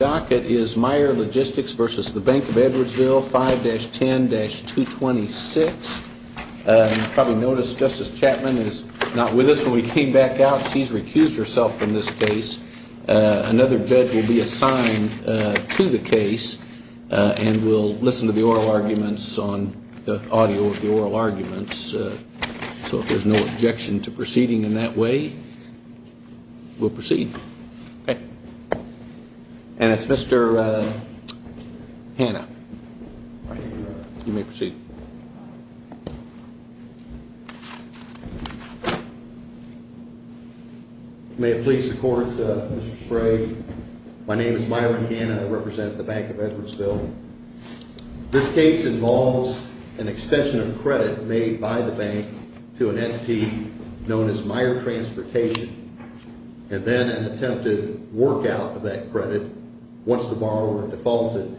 versus the Bank of Edwardsville, 5-10-226. You probably noticed Justice Chapman is not with us when we came back out. She's recused herself from this case. Another judge will be assigned to the case, and we'll listen to the oral arguments on the audio of the oral arguments. So if there's no objection to proceeding in that way, we'll proceed. Okay. And it's Mr. Hanna. You may proceed. May it please the Court, Mr. Sprague. My name is Myron Hanna. I represent the Bank of Edwardsville. This case involves an extension of credit made by the bank to an entity known as Meijer Transportation, and then an attempted work out of that credit once the borrower defaulted,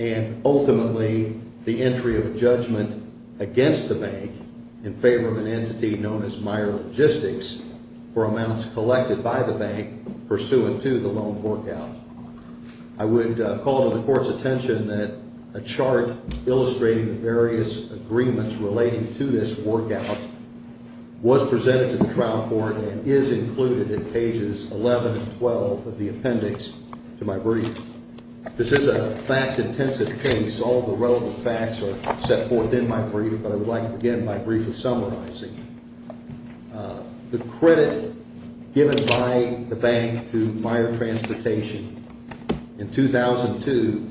and ultimately the entry of a judgment against the bank in favor of an entity known as Meijer Logistics for amounts collected by the bank pursuant to the loan work out. I would call to the Court's attention that a chart illustrating the various agreements relating to this work out was presented to the trial court and is included in pages 11 and 12 of the appendix to my brief. This is a fact-intensive case. All the relevant facts are set forth in my brief, but I would like to begin my brief with summarizing. The credit given by the bank to Meijer Transportation in 2002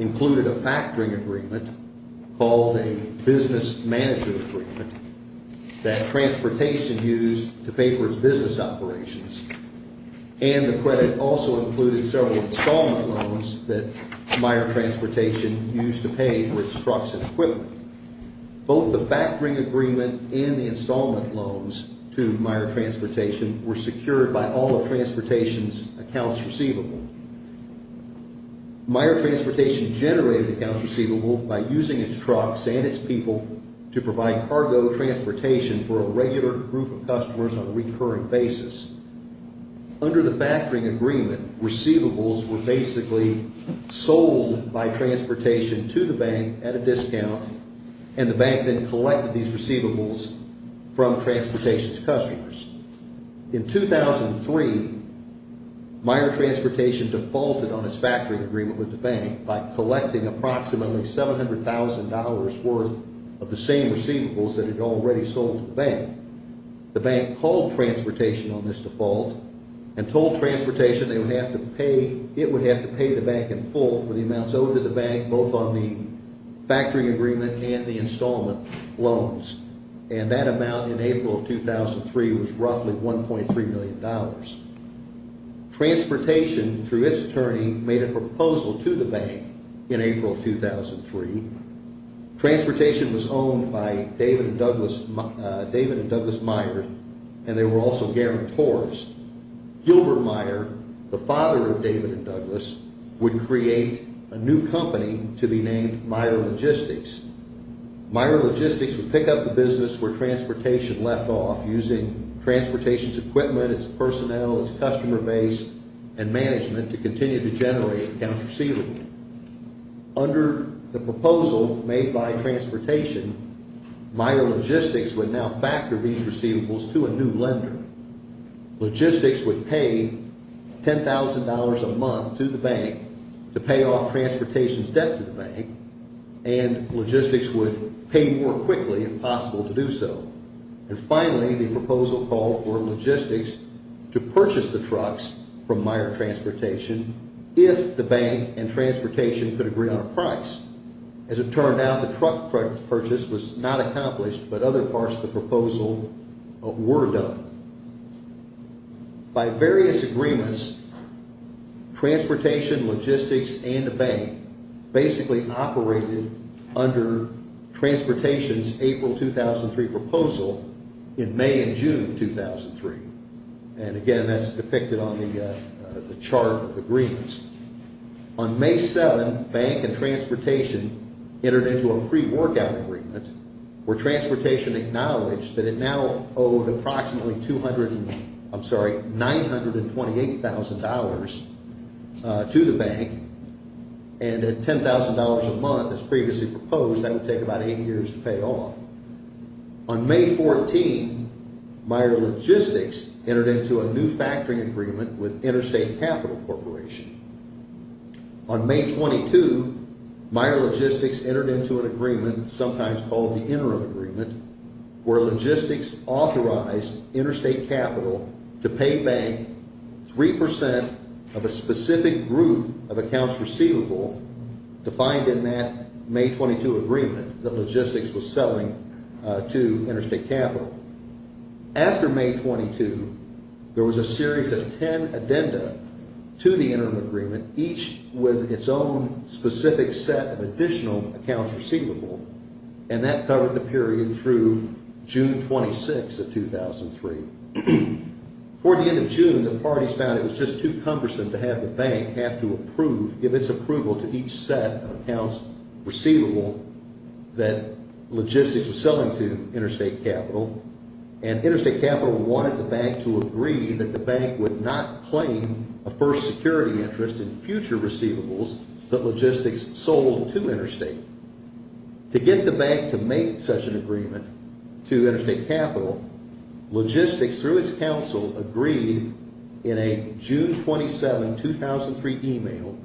included a factoring agreement called a business manager agreement that Transportation used to pay for its business operations, and the credit also included several installment loans that Meijer Transportation used to pay for its trucks and equipment. Both the factoring agreement and the installment loans to Meijer Transportation were secured by all of Transportation's accounts receivable. Meijer Transportation generated accounts receivable by using its trucks and its people to provide cargo transportation for a regular group of customers on a recurring basis. Under the factoring agreement, receivables were basically sold by Transportation to the bank at a discount, and the bank then collected these receivables from Transportation's customers. In 2003, Meijer Transportation defaulted on approximately $700,000 worth of the same receivables that had already sold to the bank. The bank called Transportation on this default and told Transportation it would have to pay the bank in full for the amounts owed to the bank, both on the factoring agreement and the installment loans, and that amount in April of 2003 was roughly $1.3 million. Transportation, through its attorney, made a proposal to the bank in April of 2003. Transportation was owned by David and Douglas Meijer, and they were also guarantors. Gilbert Meijer, the father of David and Douglas, would create a new company to be named Meijer Logistics. Meijer Logistics would pick up the business where Transportation left off using Transportation's equipment, its personnel, its customer base, and management to continue to generate accounts receivable. Under the proposal made by Transportation, Meijer Logistics would now factor these receivables to a new lender. Logistics would pay $10,000 a month to the bank to pay off Transportation's debt to the bank, and Logistics would pay more quickly if possible to do so. And finally, the proposal called for Logistics to purchase the trucks from Meijer Transportation if the bank and Transportation could agree on a price. As it turned out, the truck purchase was not accomplished, but other parts of the proposal were done. By various agreements, Transportation, Logistics, and the bank basically operated under Transportation's April 2003 proposal in May and June of 2003. And again, that's depicted on the chart of agreements. On May 7, bank and Transportation entered into a pre-workout agreement where Transportation acknowledged that it now owed approximately $928,000 to the bank, and at $10,000 a month as previously proposed, that would take about eight years to pay off. On May 14, Meijer Logistics entered into a new factoring agreement with Interstate Capital Corporation. On May 22, Meijer Logistics entered into an agreement, sometimes called the interim agreement, where Logistics authorized Interstate Capital to pay bank 3% of a specific group of accounts receivable defined in that May 22 agreement that Logistics was selling to Interstate Capital. After May 22, there was a series of ten addenda to the interim agreement, each with its own specific set of additional accounts receivable, and that covered the period through June 26 of 2003. Toward the end of June, the parties found it was just too cumbersome to have the set of accounts receivable that Logistics was selling to Interstate Capital, and Interstate Capital wanted the bank to agree that the bank would not claim a first security interest in future receivables that Logistics sold to Interstate. To get the bank to make such an agreement to Interstate Capital, Logistics, through its counsel, agreed in a June 27, 2003 email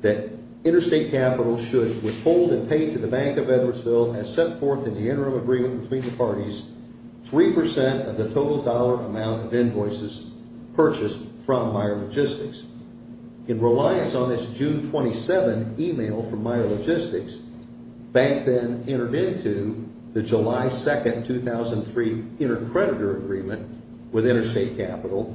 that Interstate Capital should withhold and pay to the Bank of Edwardsville as set forth in the interim agreement between the parties 3% of the total dollar amount of invoices purchased from Meijer Logistics. In reliance on this June 27 email from Meijer Logistics, the bank then entered into the July 2, 2003 intercreditor agreement with Meijer Logistics,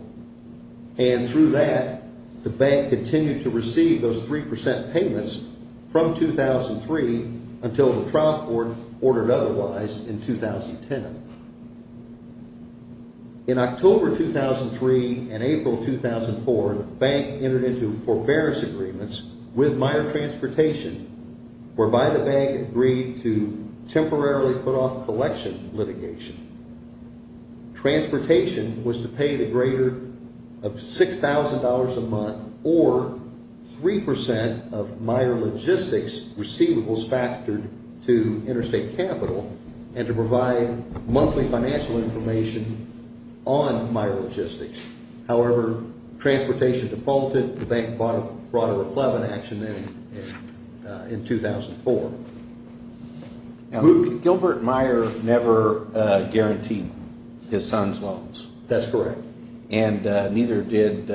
whereby the bank continued to receive those 3% payments from 2003 until the trial court ordered otherwise in 2010. In October 2003 and April 2004, the bank entered into forbearance agreements with Meijer Transportation, whereby the bank agreed to temporarily put Transportation was to pay the greater of $6,000 a month or 3% of Meijer Logistics receivables factored to Interstate Capital and to provide monthly financial information on Meijer Logistics. However, Transportation defaulted. The bank brought a reclaimed action in 2004. Now, Gilbert Meijer never guaranteed his son's loans. That's correct. And neither did,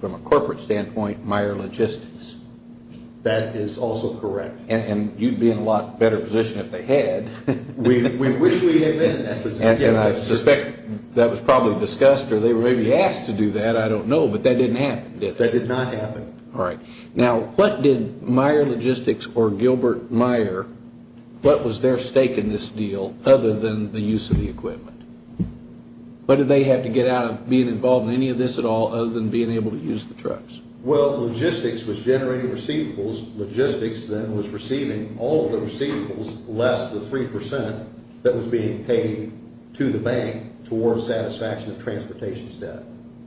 from a corporate standpoint, Meijer Logistics. That is also correct. And you'd be in a lot better position if they had. We wish we had been in that position. And I suspect that was probably discussed or they were maybe asked to do that. I don't know. But that didn't happen, did it? That did not happen. Now, what did Meijer Logistics or Gilbert Meijer, what was their stake in this deal other than the use of the equipment? What did they have to get out of being involved in any of this at all other than being able to use the trucks? Well, Logistics was generating receivables. Logistics then was receiving all of the receivables less the 3% that was being paid to the bank towards satisfaction of Transportation's debt.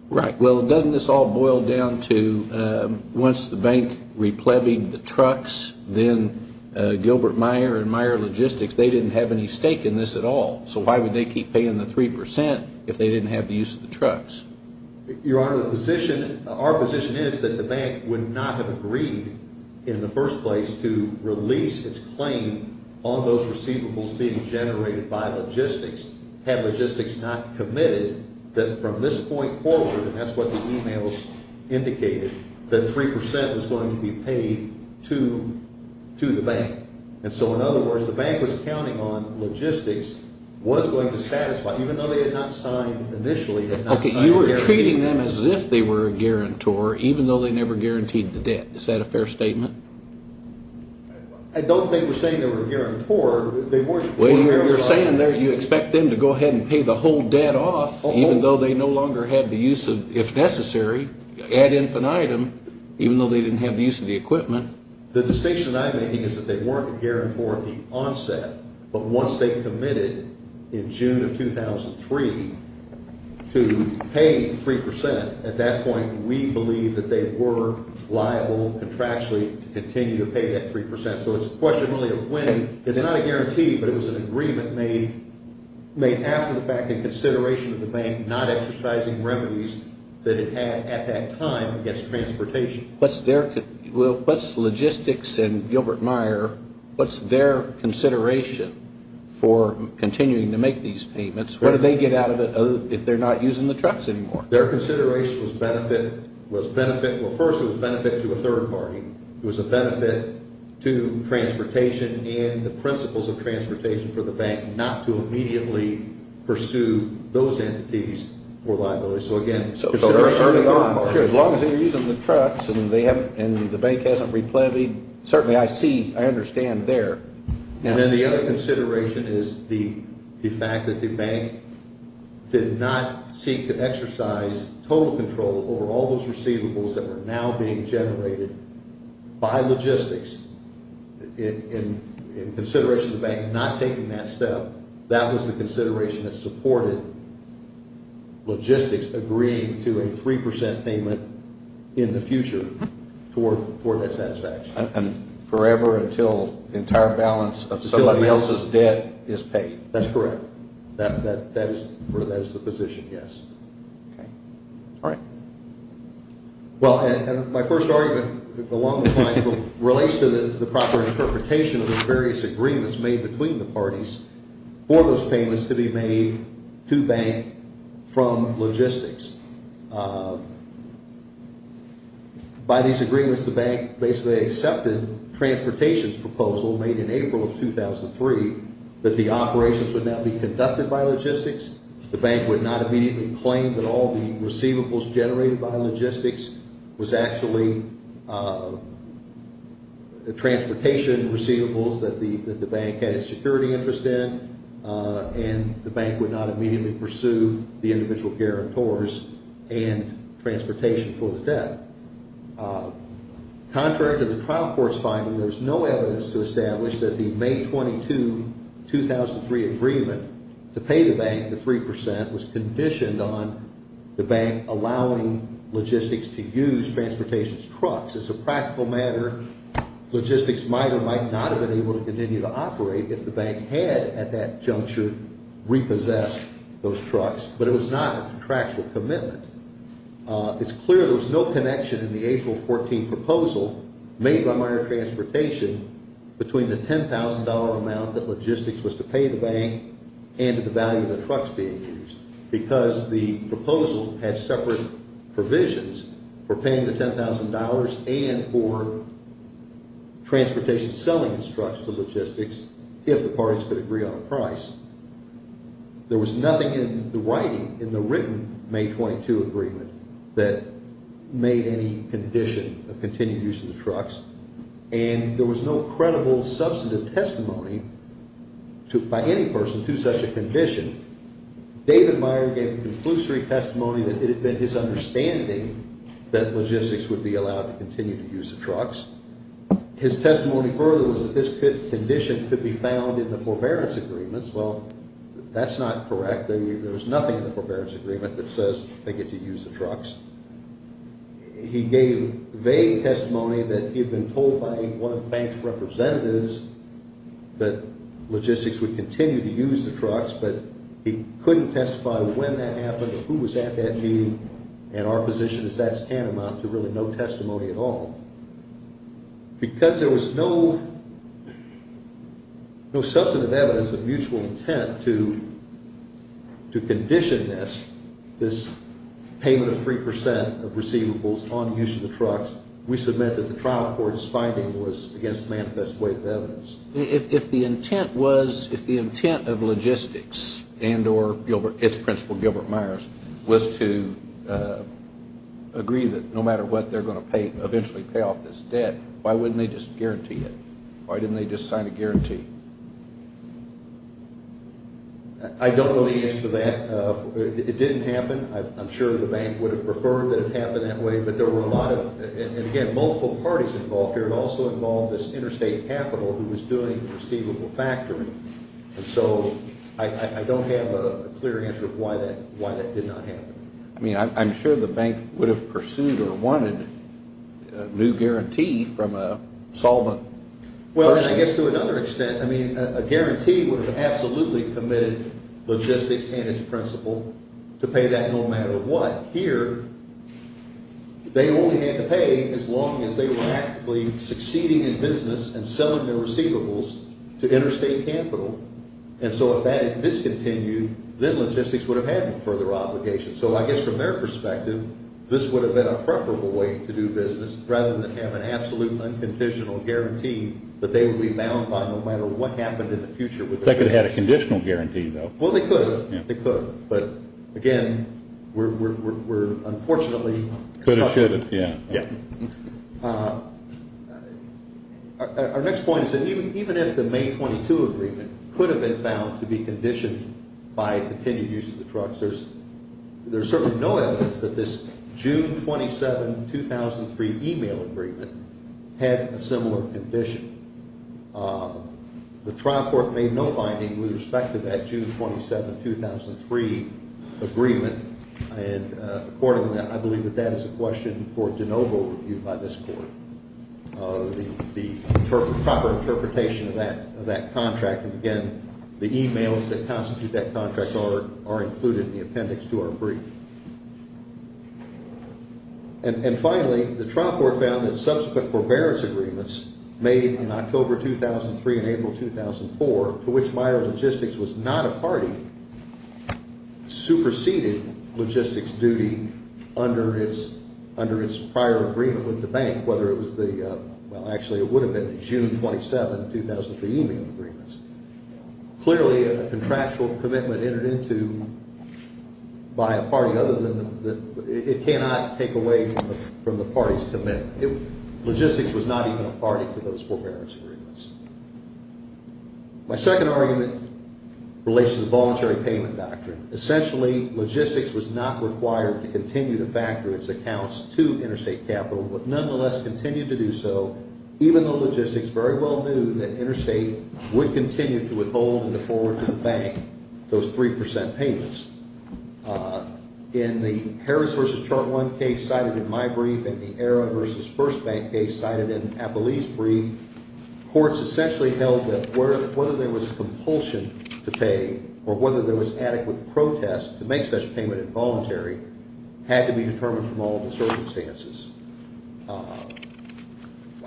Right. Well, doesn't this all boil down to once the bank replebbed the trucks, then Gilbert Meijer and Meijer Logistics, they didn't have any stake in this at all. So why would they keep paying the 3% if they didn't have the use of the trucks? Your Honor, the position, our position is that the bank would not have agreed in the first place to release its claim on those receivables being generated by Logistics had Logistics not committed that from this point forward, and that's what the e-mails indicated, that 3% was going to be paid to the bank. And so, in other words, the bank was counting on Logistics was going to satisfy, even though they had not signed initially. Okay, you were treating them as if they were a guarantor even though they never guaranteed the debt. Is that a fair statement? I don't think we're saying they were a guarantor. Well, you're saying there you expect them to go ahead and pay the whole debt off, even though they no longer had the use of, if necessary, ad infinitum, even though they didn't have the use of the equipment. The distinction I'm making is that they weren't a guarantor of the onset, but once they committed in June of 2003 to pay 3%, at that point we believe that they were liable contractually to continue to pay that 3%. So it's questionably a win. It's not a guarantee, but it was an agreement made after the fact in consideration of the bank not exercising remedies that it had at that time against transportation. What's Logistics and Gilbert Meyer, what's their consideration for continuing to make these payments? What do they get out of it if they're not using the trucks anymore? Their consideration was benefit, well, first it was benefit to a third party. It was a benefit to transportation and the principles of transportation for the bank not to immediately pursue those entities for liability. So, again, it's a third party. Sure, as long as they're using the trucks and the bank hasn't replanted, certainly I see, I understand there. And then the other consideration is the fact that the bank did not seek to exercise total control over all those receivables that were now being generated by Logistics in consideration of the bank not taking that step. That was the consideration that supported Logistics agreeing to a 3% payment in the future toward that satisfaction. And forever until the entire balance of somebody else's debt is paid. That's correct. That is the position, yes. Okay. All right. Well, my first argument along the lines relates to the proper interpretation of the various agreements made between the parties for those payments to be made to bank from Logistics. By these agreements, the bank basically accepted transportation's proposal made in April of 2003 that the operations would now be conducted by Logistics. The bank would not immediately claim that all the receivables generated by Logistics was actually transportation receivables that the bank had a security interest in, and the bank would not immediately pursue the individual guarantors and transportation for the debt. Contrary to the trial court's finding, there's no evidence to establish that the May 22, 2003 agreement to pay the bank the 3% was conditioned on the bank allowing Logistics to use transportation's trucks. As a practical matter, Logistics might or might not have been able to continue to operate if the bank had at that juncture repossessed those trucks, but it was not a contractual commitment. It's clear there was no connection in the April 14 proposal made by Mayer Transportation between the $10,000 amount that Logistics was to pay the bank and the value of the trucks being used because the proposal had separate provisions for paying the $10,000 and for transportation selling its trucks to Logistics if the parties could agree on a price. There was nothing in the writing in the written May 22 agreement that made any condition of continued use of the trucks, and there was no credible substantive testimony by any person to such a condition. David Mayer gave a conclusory testimony that it had been his understanding that Logistics would be allowed to continue to use the trucks. His testimony further was that this condition could be found in the forbearance agreements. Well, that's not correct. There's nothing in the forbearance agreement that says they get to use the trucks. He gave vague testimony that he had been told by one of the bank's representatives that Logistics would continue to use the trucks, but he couldn't testify when that happened or who was at that meeting, and our position is that's tantamount to really no testimony at all. Because there was no substantive evidence of mutual intent to condition this, this payment of 3% of receivables on use of the trucks, we submit that the trial court's finding was against the manifest weight of evidence. If the intent was, if the intent of Logistics and or its principal Gilbert Myers was to agree that no matter what they're going to pay, eventually pay off this debt, why wouldn't they just guarantee it? Why didn't they just sign a guarantee? I don't know the answer to that. It didn't happen. I'm sure the bank would have preferred that it happened that way, but there were a lot of, and again, multiple parties involved here. It also involved this interstate capital who was doing receivable factoring, and so I don't have a clear answer of why that did not happen. I mean, I'm sure the bank would have pursued or wanted a new guarantee from a solvent person. Well, I guess to another extent, I mean, a guarantee would have absolutely committed Logistics and its principal to pay that no matter what. Here, they only had to pay as long as they were actively succeeding in business and selling their receivables to interstate capital, and so if that had discontinued, then Logistics would have had no further obligation. So I guess from their perspective, this would have been a preferable way to do business rather than have an absolute unconditional guarantee that they would be bound by no matter what happened in the future with their business. They could have had a conditional guarantee, though. Well, they could have. They could have. But again, we're unfortunately— Could have, should have, yeah. Our next point is that even if the May 22 agreement could have been found to be conditioned by the continued use of the trucks, there's certainly no evidence that this June 27, 2003 email agreement had a similar condition. The trial court made no finding with respect to that June 27, 2003 agreement, and accordingly, I believe that that is a question for de novo review by this court, the proper interpretation of that contract. And again, the emails that constitute that contract are included in the appendix to our brief. And finally, the trial court found that subsequent forbearance agreements made in October 2003 and April 2004 to which Meijer Logistics was not a party, superseded logistics duty under its prior agreement with the bank, whether it was the—well, actually it would have been the June 27, 2003 email agreements. Clearly, a contractual commitment entered into by a party other than the— it cannot take away from the party's commitment. Logistics was not even a party to those forbearance agreements. My second argument relates to the voluntary payment doctrine. Essentially, logistics was not required to continue to factor its accounts to interstate capital, but nonetheless continued to do so even though logistics very well knew that interstate would continue to withhold and to forward to the bank those 3 percent payments. In the Harris v. Chartwell case cited in my brief, and the Ara v. Burst Bank case cited in Appelee's brief, courts essentially held that whether there was a compulsion to pay or whether there was adequate protest to make such payment involuntary had to be determined from all of the circumstances.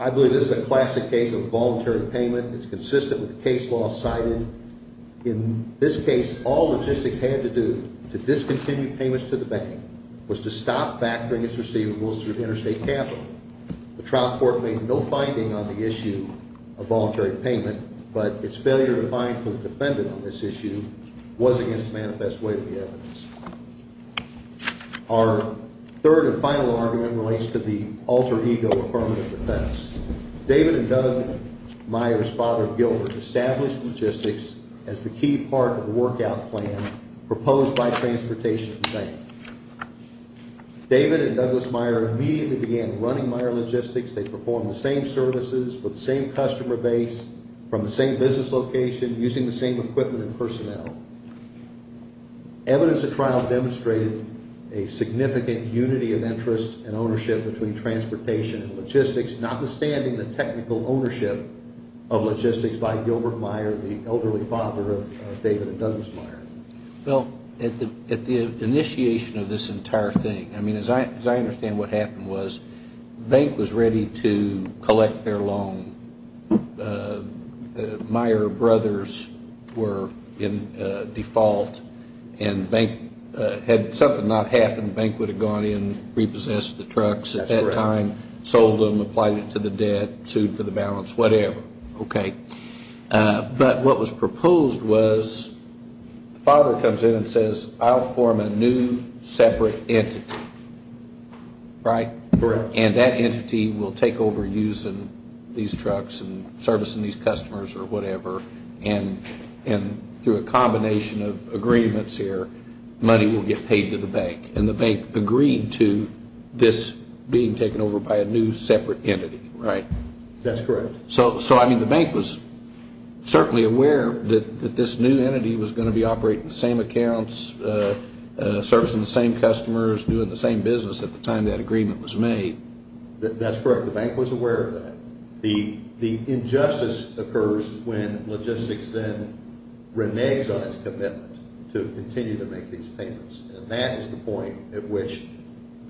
I believe this is a classic case of voluntary payment. It's consistent with the case law cited. In this case, all logistics had to do to discontinue payments to the bank was to stop factoring its receivables through interstate capital. The trial court made no finding on the issue of voluntary payment, but its failure to find who defended on this issue was against manifest way of the evidence. Our third and final argument relates to the alter ego affirmative defense. David and Doug Meyer's father, Gilbert, established logistics as the key part of the workout plan proposed by transportation to the bank. David and Douglas Meyer immediately began running Meyer Logistics. They performed the same services with the same customer base from the same business location using the same equipment and personnel. Evidence of trial demonstrated a significant unity of interest and ownership between transportation and logistics, notwithstanding the technical ownership of logistics by Gilbert Meyer, the elderly father of David and Douglas Meyer. Well, at the initiation of this entire thing, I mean, as I understand what happened was, the bank was ready to collect their loan. Meyer brothers were in default, and had something not happened, the bank would have gone in, repossessed the trucks at that time, sold them, applied it to the debt, sued for the balance, whatever, okay? But what was proposed was the father comes in and says, I'll form a new separate entity, right? Correct. And that entity will take over using these trucks and servicing these customers or whatever, and through a combination of agreements here, money will get paid to the bank. And the bank agreed to this being taken over by a new separate entity, right? That's correct. So, I mean, the bank was certainly aware that this new entity was going to be operating the same accounts, servicing the same customers, doing the same business at the time that agreement was made. That's correct. The bank was aware of that. The injustice occurs when logistics then reneges on its commitment to continue to make these payments. And that is the point at which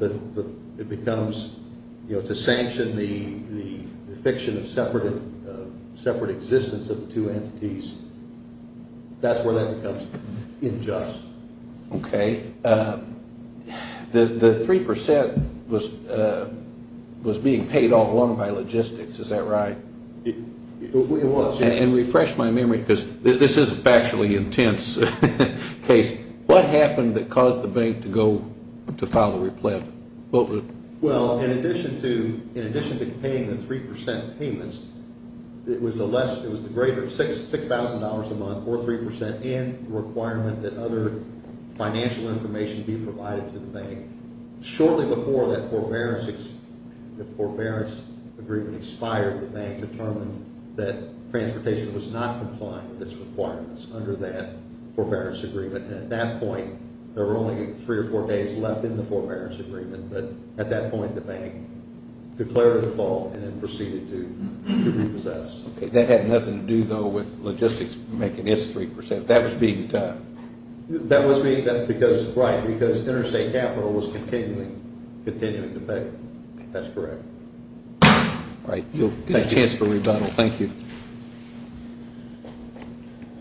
it becomes, you know, to sanction the fiction of separate existence of the two entities. That's where that becomes unjust. Okay. The 3% was being paid all along by logistics, is that right? It was. And refresh my memory, because this is a factually intense case. What happened that caused the bank to file the replant? Well, in addition to paying the 3% payments, it was the greater $6,000 a month or 3% in requirement that other financial information be provided to the bank. Shortly before that forbearance agreement expired, the bank determined that transportation was not complying with its requirements under that forbearance agreement. And at that point, there were only three or four days left in the forbearance agreement. But at that point, the bank declared a default and then proceeded to repossess. That had nothing to do, though, with logistics making its 3%. That was being done. That was being done because, right, because interstate capital was continuing to pay. That's correct. All right. You'll get a chance for rebuttal. Thank you.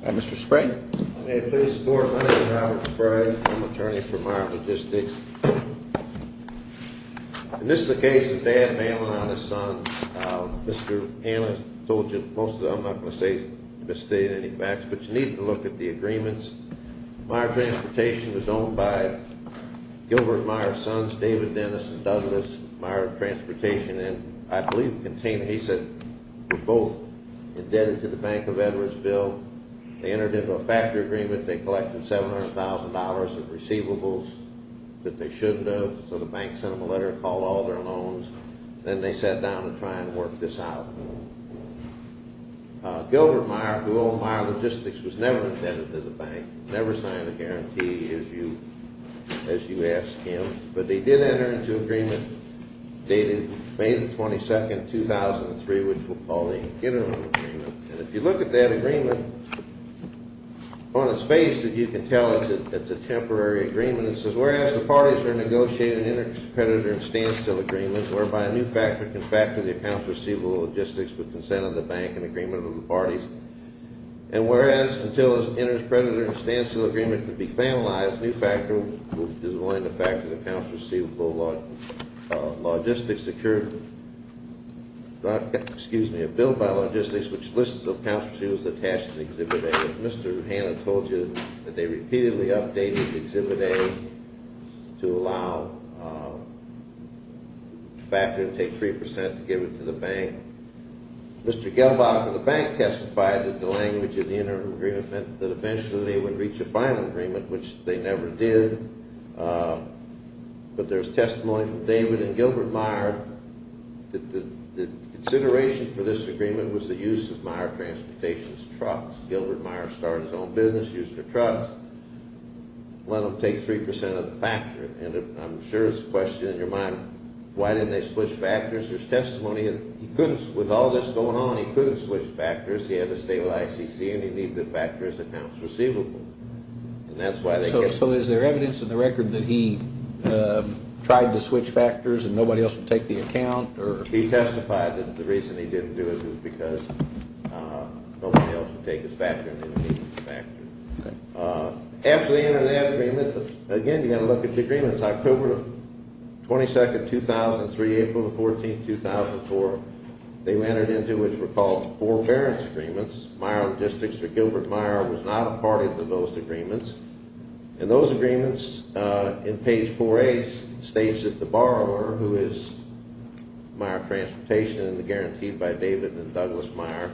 All right. Mr. Spray? May it please the Court. My name is Robert Spray. I'm an attorney for Meijer Logistics. And this is a case of dad bailing out his son. Mr. Hanna told you most of that. I'm not going to say it's devastated any facts. But you need to look at the agreements. Meijer Transportation was owned by Gilbert Meijer's sons, David Dennis and Douglas Meijer Transportation. And I believe the container, he said, was both indebted to the Bank of Edwards Bill. They entered into a factory agreement. They collected $700,000 of receivables that they shouldn't have. So the bank sent them a letter and called all their loans. Then they sat down to try and work this out. Gilbert Meijer, who owned Meijer Logistics, was never indebted to the bank, never signed a guarantee, as you asked him. But they did enter into an agreement dated May 22, 2003, which we'll call the Interim Agreement. And if you look at that agreement, on its face you can tell it's a temporary agreement. It says, whereas the parties are negotiating an interpredator and standstill agreement, whereby a new factor can factor the accounts receivable of logistics with consent of the bank and agreement of the parties, and whereas until an interpredator and standstill agreement can be finalized, a new factor will designate a factor of accounts receivable of logistics secured, excuse me, a bill by logistics which lists the accounts receivables attached to Exhibit A. As Mr. Hannah told you, they repeatedly updated Exhibit A to allow a factor to take 3% to give it to the bank. Mr. Gelbach of the bank testified that the language of the Interim Agreement meant that eventually they would reach a final agreement, which they never did, but there's testimony from David and Gilbert Meier that the consideration for this agreement was the use of Meier Transportation's trucks. Gilbert Meier started his own business, used their trucks, let them take 3% of the factor. And I'm sure there's a question in your mind, why didn't they switch factors? There's testimony that he couldn't, with all this going on, he couldn't switch factors. He had to stay with ICC and he needed to factor his accounts receivable. So is there evidence in the record that he tried to switch factors and nobody else would take the account? He testified that the reason he didn't do it was because nobody else would take his factor and then he would factor. After they entered that agreement, again, you've got to look at the agreements. October 22nd, 2003, April 14th, 2004, they entered into what were called Forbearance Agreements. Meier Logistics, or Gilbert Meier, was not a party to those agreements. And those agreements, in page 4A, states that the borrower, who is Meier Transportation and is guaranteed by David and Douglas Meier,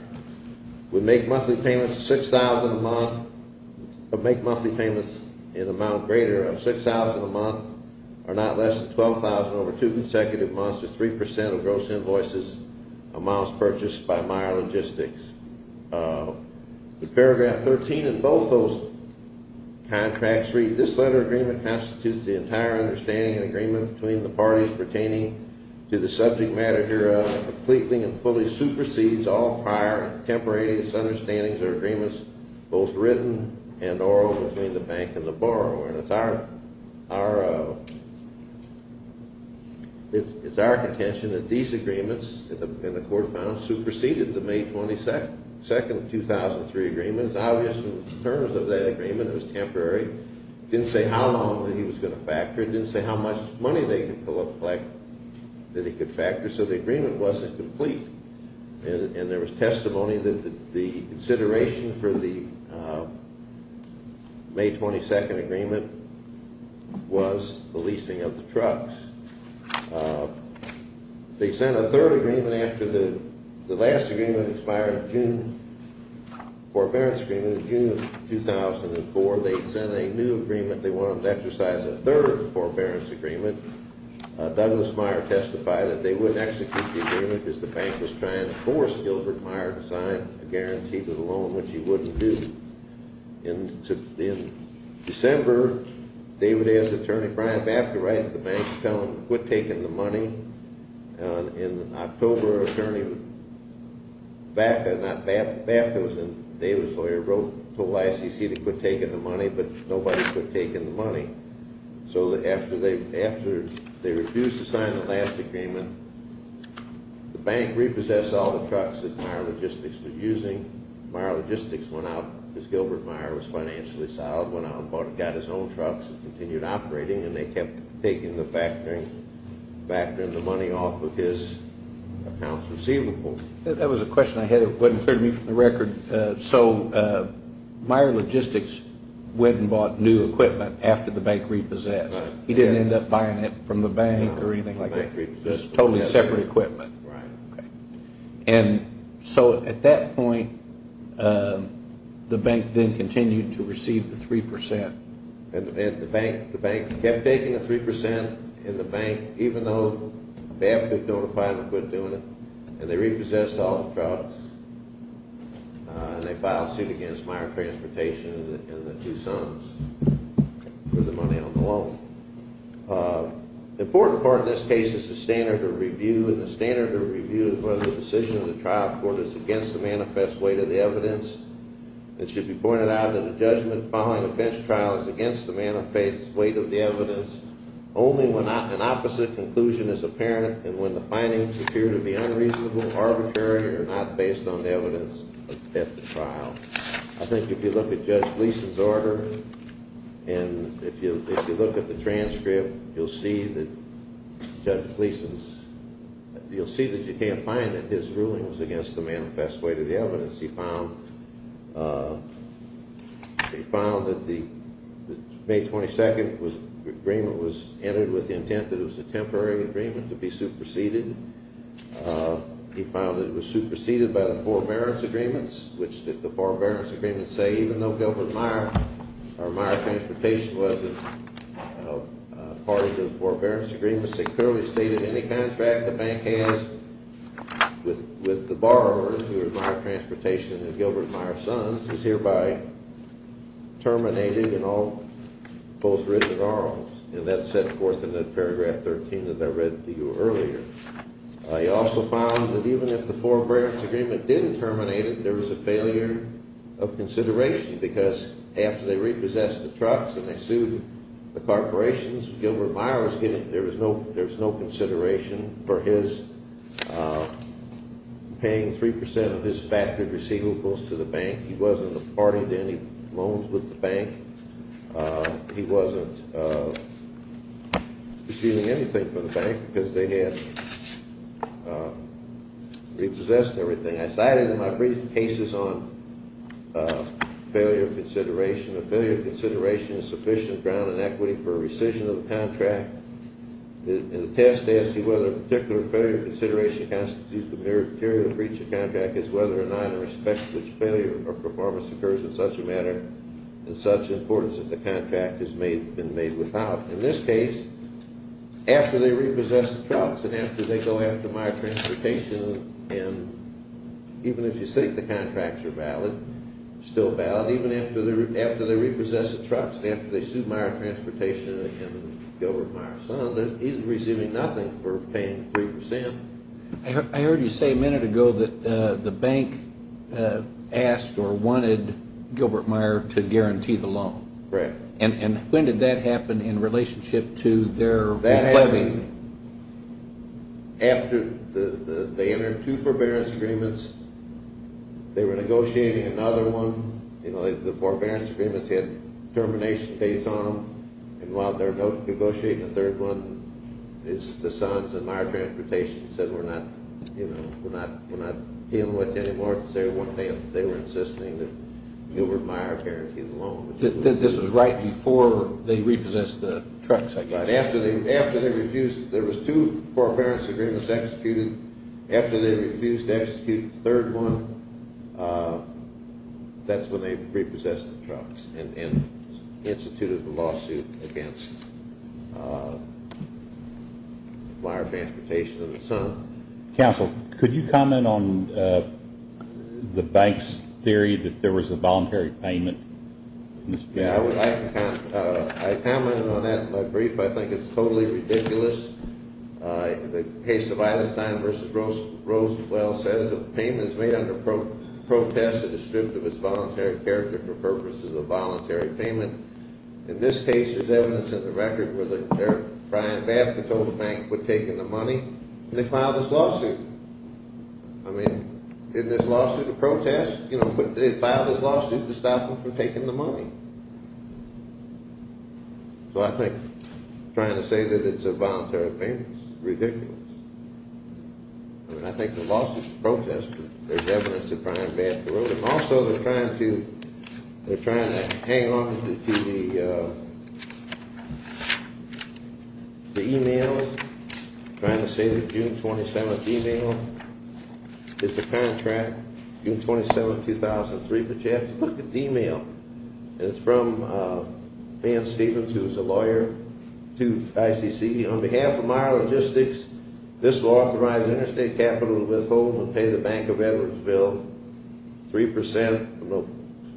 would make monthly payments of $6,000 a month or make monthly payments in amount greater of $6,000 a month or not less than $12,000 over 2 consecutive months or 3% of gross invoices amounts purchased by Meier Logistics. Paragraph 13 in both those contracts reads, This letter of agreement constitutes the entire understanding and agreement between the parties pertaining to the subject matter hereof and completely and fully supersedes all prior and contemporaneous understandings or agreements, both written and oral, between the bank and the borrower. And it's our contention that these agreements in the court of fines superseded the May 22nd, 2003, agreement. It's obvious in terms of that agreement, it was temporary. It didn't say how long he was going to factor. It didn't say how much money they could collect that he could factor. So the agreement wasn't complete. And there was testimony that the consideration for the May 22nd agreement was the leasing of the trucks. They sent a third agreement after the last agreement expired in June, the forbearance agreement in June of 2004. They sent a new agreement. They wanted them to exercise a third forbearance agreement. Douglas Meyer testified that they wouldn't execute the agreement because the bank was trying to force Gilbert Meyer to sign a guarantee for the loan, which he wouldn't do. In December, David A. as attorney, Brian Bafta, writes to the bank to tell them to quit taking the money. In October, attorney Bafta, not Bafta, Bafta was David's lawyer, wrote, told ICC to quit taking the money, but nobody quit taking the money. So after they refused to sign the last agreement, the bank repossessed all the trucks that Meyer Logistics was using. Meyer Logistics went out because Gilbert Meyer was financially solid, went out and got his own trucks and continued operating, and they kept taking the money off of his accounts receivable. That was a question I had that wasn't clear to me from the record. So Meyer Logistics went and bought new equipment after the bank repossessed. He didn't end up buying it from the bank or anything like that. It was totally separate equipment. Right. And so at that point, the bank then continued to receive the 3%. And the bank kept taking the 3% in the bank, even though Bafta notified them to quit doing it, and they repossessed all the trucks, and they filed suit against Meyer Transportation and the two sons for the money on the loan. The important part of this case is the standard of review, and the standard of review is whether the decision of the trial court is against the manifest weight of the evidence. It should be pointed out that a judgment following a bench trial is against the manifest weight of the evidence only when an opposite conclusion is apparent and when the findings appear to be unreasonable, arbitrary, or not based on the evidence at the trial. I think if you look at Judge Gleason's order and if you look at the transcript, you'll see that Judge Gleason's – you'll see that you can't find that his ruling was against the manifest weight of the evidence. He found that the May 22nd agreement was entered with the intent that it was a temporary agreement to be superseded. He found that it was superseded by the forbearance agreements, which the forbearance agreements say even though Gilbert Meyer or Meyer Transportation wasn't part of the forbearance agreements, it securely stated any contract the bank has with the borrower, who is Meyer Transportation and Gilbert Meyer's son, is hereby terminated and all – both written and oral. And that's set forth in the paragraph 13 that I read to you earlier. He also found that even if the forbearance agreement didn't terminate it, there was a failure of consideration because after they repossessed the trucks and they sued the corporations, Gilbert Meyer was given – there was no consideration for his paying 3 percent of his factored receivables to the bank. He wasn't a party to any loans with the bank. He wasn't receiving anything from the bank because they had repossessed everything. And I cited in my brief cases on failure of consideration, a failure of consideration is sufficient ground and equity for a rescission of the contract. And the test as to whether a particular failure of consideration constitutes the meritorious breach of contract is whether or not it respects which failure or performance occurs in such a matter and such importance that the contract has been made without. In this case, after they repossessed the trucks and after they go after Meyer Transportation and even if you think the contracts are valid, still valid, even after they repossessed the trucks and after they sued Meyer Transportation and Gilbert Meyer's son, he's receiving nothing for paying 3 percent. I heard you say a minute ago that the bank asked or wanted Gilbert Meyer to guarantee the loan. Correct. And when did that happen in relationship to their levy? After they entered two forbearance agreements, they were negotiating another one. You know, the forbearance agreements had termination dates on them. And while they were negotiating a third one, the sons of Meyer Transportation said we're not dealing with it anymore because they were insisting that Gilbert Meyer guarantee the loan. This was right before they repossessed the trucks, I guess. After they refused, there was two forbearance agreements executed. After they refused to execute the third one, that's when they repossessed the trucks and instituted a lawsuit against Meyer Transportation and the son. Counsel, could you comment on the bank's theory that there was a voluntary payment? Yeah, I would like to comment. I commented on that in my brief. I think it's totally ridiculous. The case of Eilerstein v. Rosewell says that the payment is made under protest and is stripped of its voluntary character for purposes of voluntary payment. In this case, there's evidence in the record where Brian Babcock told the bank to quit taking the money, and they filed this lawsuit. I mean, in this lawsuit to protest, you know, they filed this lawsuit to stop them from taking the money. So I think trying to say that it's a voluntary payment is ridiculous. I mean, I think the lawsuit is a protest, but there's evidence that Brian Babcock wrote it. Also, they're trying to hang onto the emails, trying to say the June 27th email. It's a contract, June 27, 2003, but you have to look at the email. It's from Dan Stevens, who is a lawyer to ICC. On behalf of Meyer Logistics, this law authorizes interstate capital to withhold and pay the Bank of Edwards bill 3% of the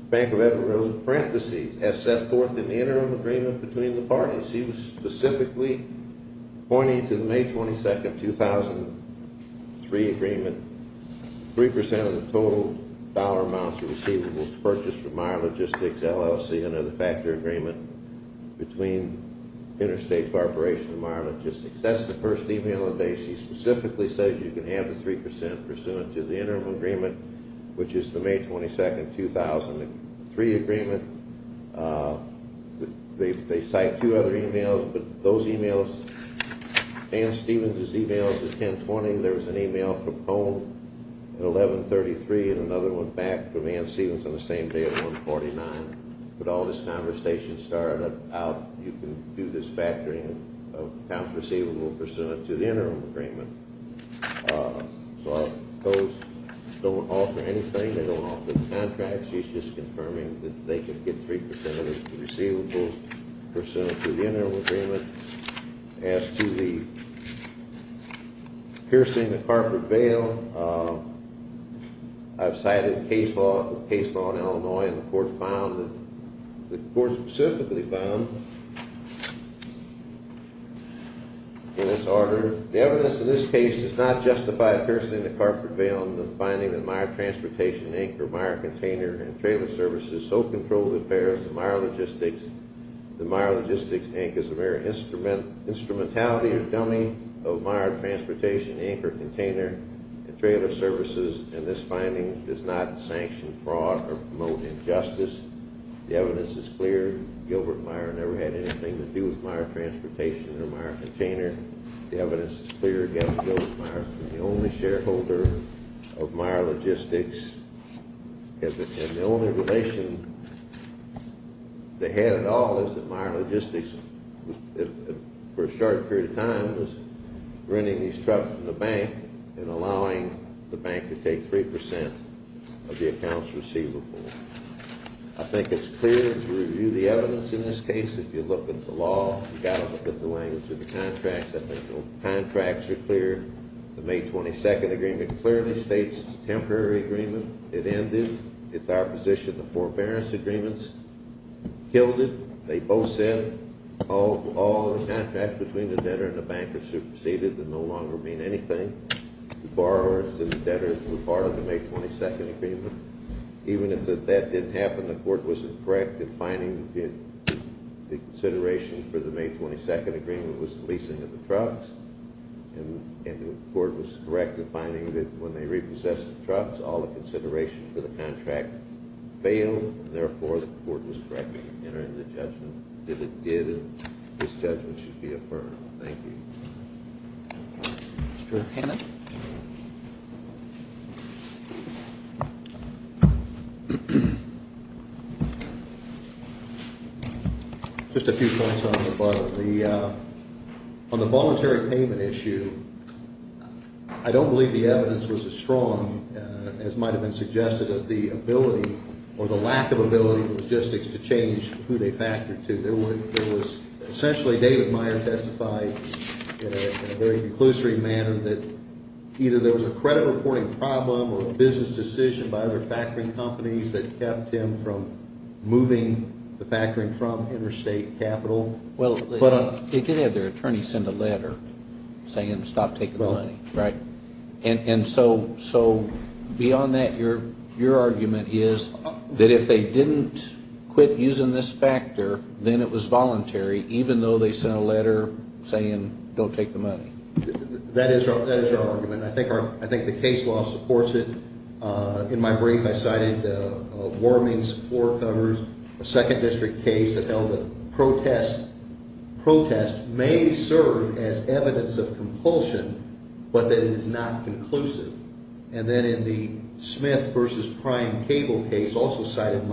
Bank of Edwards parentheses, as set forth in the interim agreement between the parties. He was specifically pointing to the May 22nd, 2003 agreement, 3% of the total dollar amounts receivables purchased from Meyer Logistics LLC under the factor agreement between Interstate Corporation and Meyer Logistics. That's the first email that they – she specifically says you can have the 3% pursuant to the interim agreement, which is the May 22nd, 2003 agreement. They cite two other emails, but those emails, Dan Stevens' emails, the 10-20, there was an email from Cone at 11-33 and another one back from Dan Stevens on the same day at 1-49. But all this conversation started about you can do this factoring of amounts receivable pursuant to the interim agreement. So our codes don't alter anything. They don't alter the contracts. She's just confirming that they can get 3% of the receivables pursuant to the interim agreement. As to the piercing the corporate bail, I've cited case law in Illinois, and the court found that – the court specifically found in this order – the evidence in this case does not justify a piercing the corporate bail in the finding that Meyer Transportation, Inc. or Meyer Container and Trailer Services so controlled affairs of Meyer Logistics that Meyer Logistics, Inc. is a mere instrumentality or dummy of Meyer Transportation, Inc. or Container and Trailer Services, and this finding does not sanction fraud or promote injustice. The evidence is clear. Gilbert Meyer never had anything to do with Meyer Transportation or Meyer Container. The evidence is clear, again, that Gilbert Meyer was the only shareholder of Meyer Logistics, and the only relation they had at all is that Meyer Logistics, for a short period of time, was renting these trucks from the bank and allowing the bank to take 3% of the accounts receivable. I think it's clear to review the evidence in this case. If you look at the law, you've got to look at the language of the contracts. I think the contracts are clear. The May 22nd agreement clearly states it's a temporary agreement. It ended. It's our position the forbearance agreements killed it. They both said all the contracts between the debtor and the bank are superseded and no longer mean anything. The borrowers and the debtors were part of the May 22nd agreement. Even if that didn't happen, the court was correct in finding that the consideration for the May 22nd agreement was the leasing of the trucks, and the court was correct in finding that when they repossessed the trucks, all the consideration for the contract failed, and therefore the court was correct in entering the judgment. If it did, this judgment should be affirmed. Thank you. Mr. Hannon. Just a few points on the voluntary payment issue. I don't believe the evidence was as strong as might have been suggested of the ability or the lack of ability of logistics to change who they factored to. Essentially, David Meyer testified in a very conclusory manner that either there was a credit reporting problem or a business decision by other factoring companies that kept him from moving the factoring from interstate capital. Well, they did have their attorney send a letter saying stop taking the money, right? And so beyond that, your argument is that if they didn't quit using this factor, then it was voluntary, even though they sent a letter saying don't take the money. That is our argument. I think the case law supports it. In my brief, I cited warnings, floor covers, a second district case that held that protest may serve as evidence of compulsion, but that it is not conclusive. And then in the Smith v. Prime Cable case, also cited in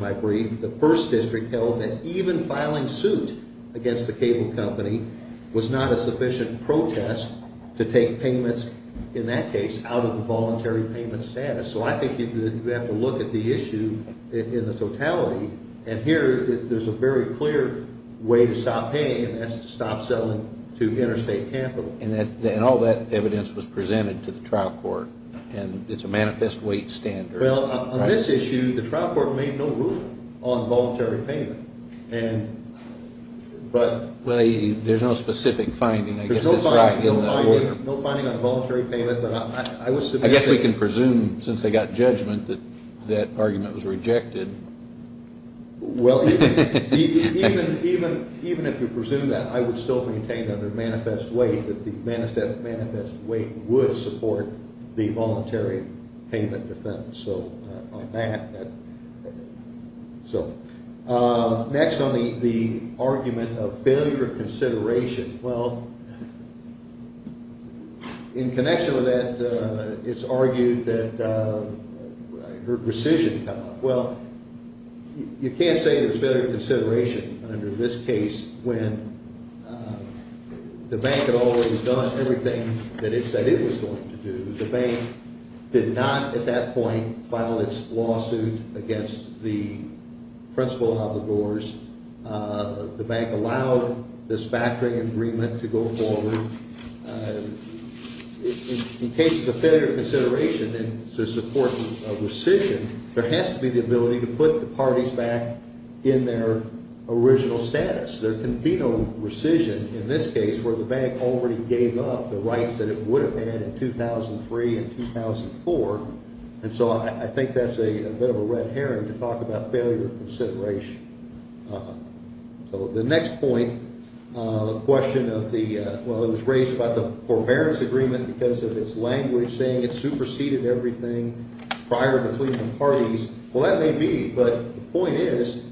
my brief, the first district held that even filing suit against the cable company was not a sufficient protest to take payments, in that case, out of the voluntary payment status. So I think you have to look at the issue in the totality. And here, there's a very clear way to stop paying, and that's to stop selling to interstate capital. And all that evidence was presented to the trial court, and it's a manifest weight standard. Well, on this issue, the trial court made no ruling on voluntary payment. Well, there's no specific finding. I guess that's right in that order. There's no finding on voluntary payment, but I would submit that... I guess we can presume, since they got judgment, that that argument was rejected. Well, even if you presume that, I would still maintain under manifest weight that the manifest weight would support the voluntary payment defense. Next, on the argument of failure of consideration. Well, in connection with that, it's argued that... I heard rescission come up. Well, you can't say there's failure of consideration under this case when the bank had always done everything that it said it was going to do. The bank did not, at that point, file its lawsuit against the principal obligors. The bank allowed this factoring agreement to go forward. In cases of failure of consideration, to support a rescission, there has to be the ability to put the parties back in their original status. There can be no rescission in this case where the bank already gave up the rights that it would have had in 2003 and 2004. And so I think that's a bit of a red herring to talk about failure of consideration. So the next point, the question of the... Well, it was raised about the forbearance agreement because of its language saying it superseded everything prior to Cleveland parties. Well, that may be, but the point is,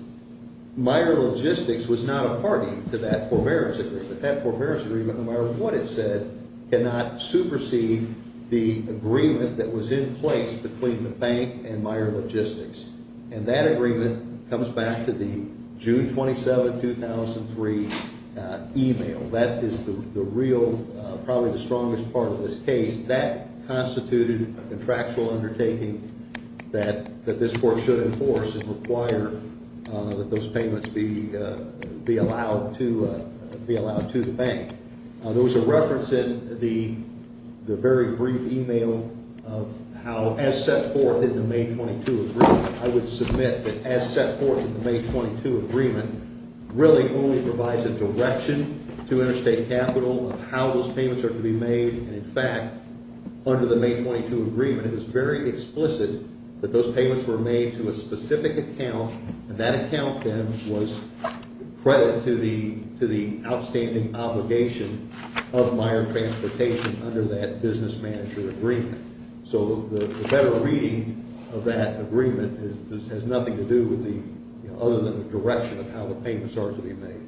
Meyer Logistics was not a party to that forbearance agreement. That forbearance agreement, no matter what it said, cannot supersede the agreement that was in place between the bank and Meyer Logistics. And that agreement comes back to the June 27, 2003 email. That is the real, probably the strongest part of this case. That constituted a contractual undertaking that this court should enforce and require that those payments be allowed to the bank. There was a reference in the very brief email of how, as set forth in the May 22 agreement, I would submit that as set forth in the May 22 agreement, really only provides a direction to interstate capital of how those payments are to be made. And in fact, under the May 22 agreement, it was very explicit that those payments were made to a specific account. And that account then was credit to the outstanding obligation of Meyer Transportation under that business manager agreement. So the better reading of that agreement has nothing to do with the, other than the direction of how the payments are to be made.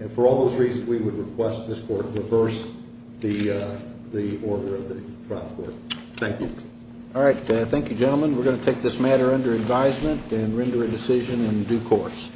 And for all those reasons, we would request this court reverse the order of the trial court. Thank you. All right, thank you, gentlemen. We're going to take this matter under advisement and render a decision in due course.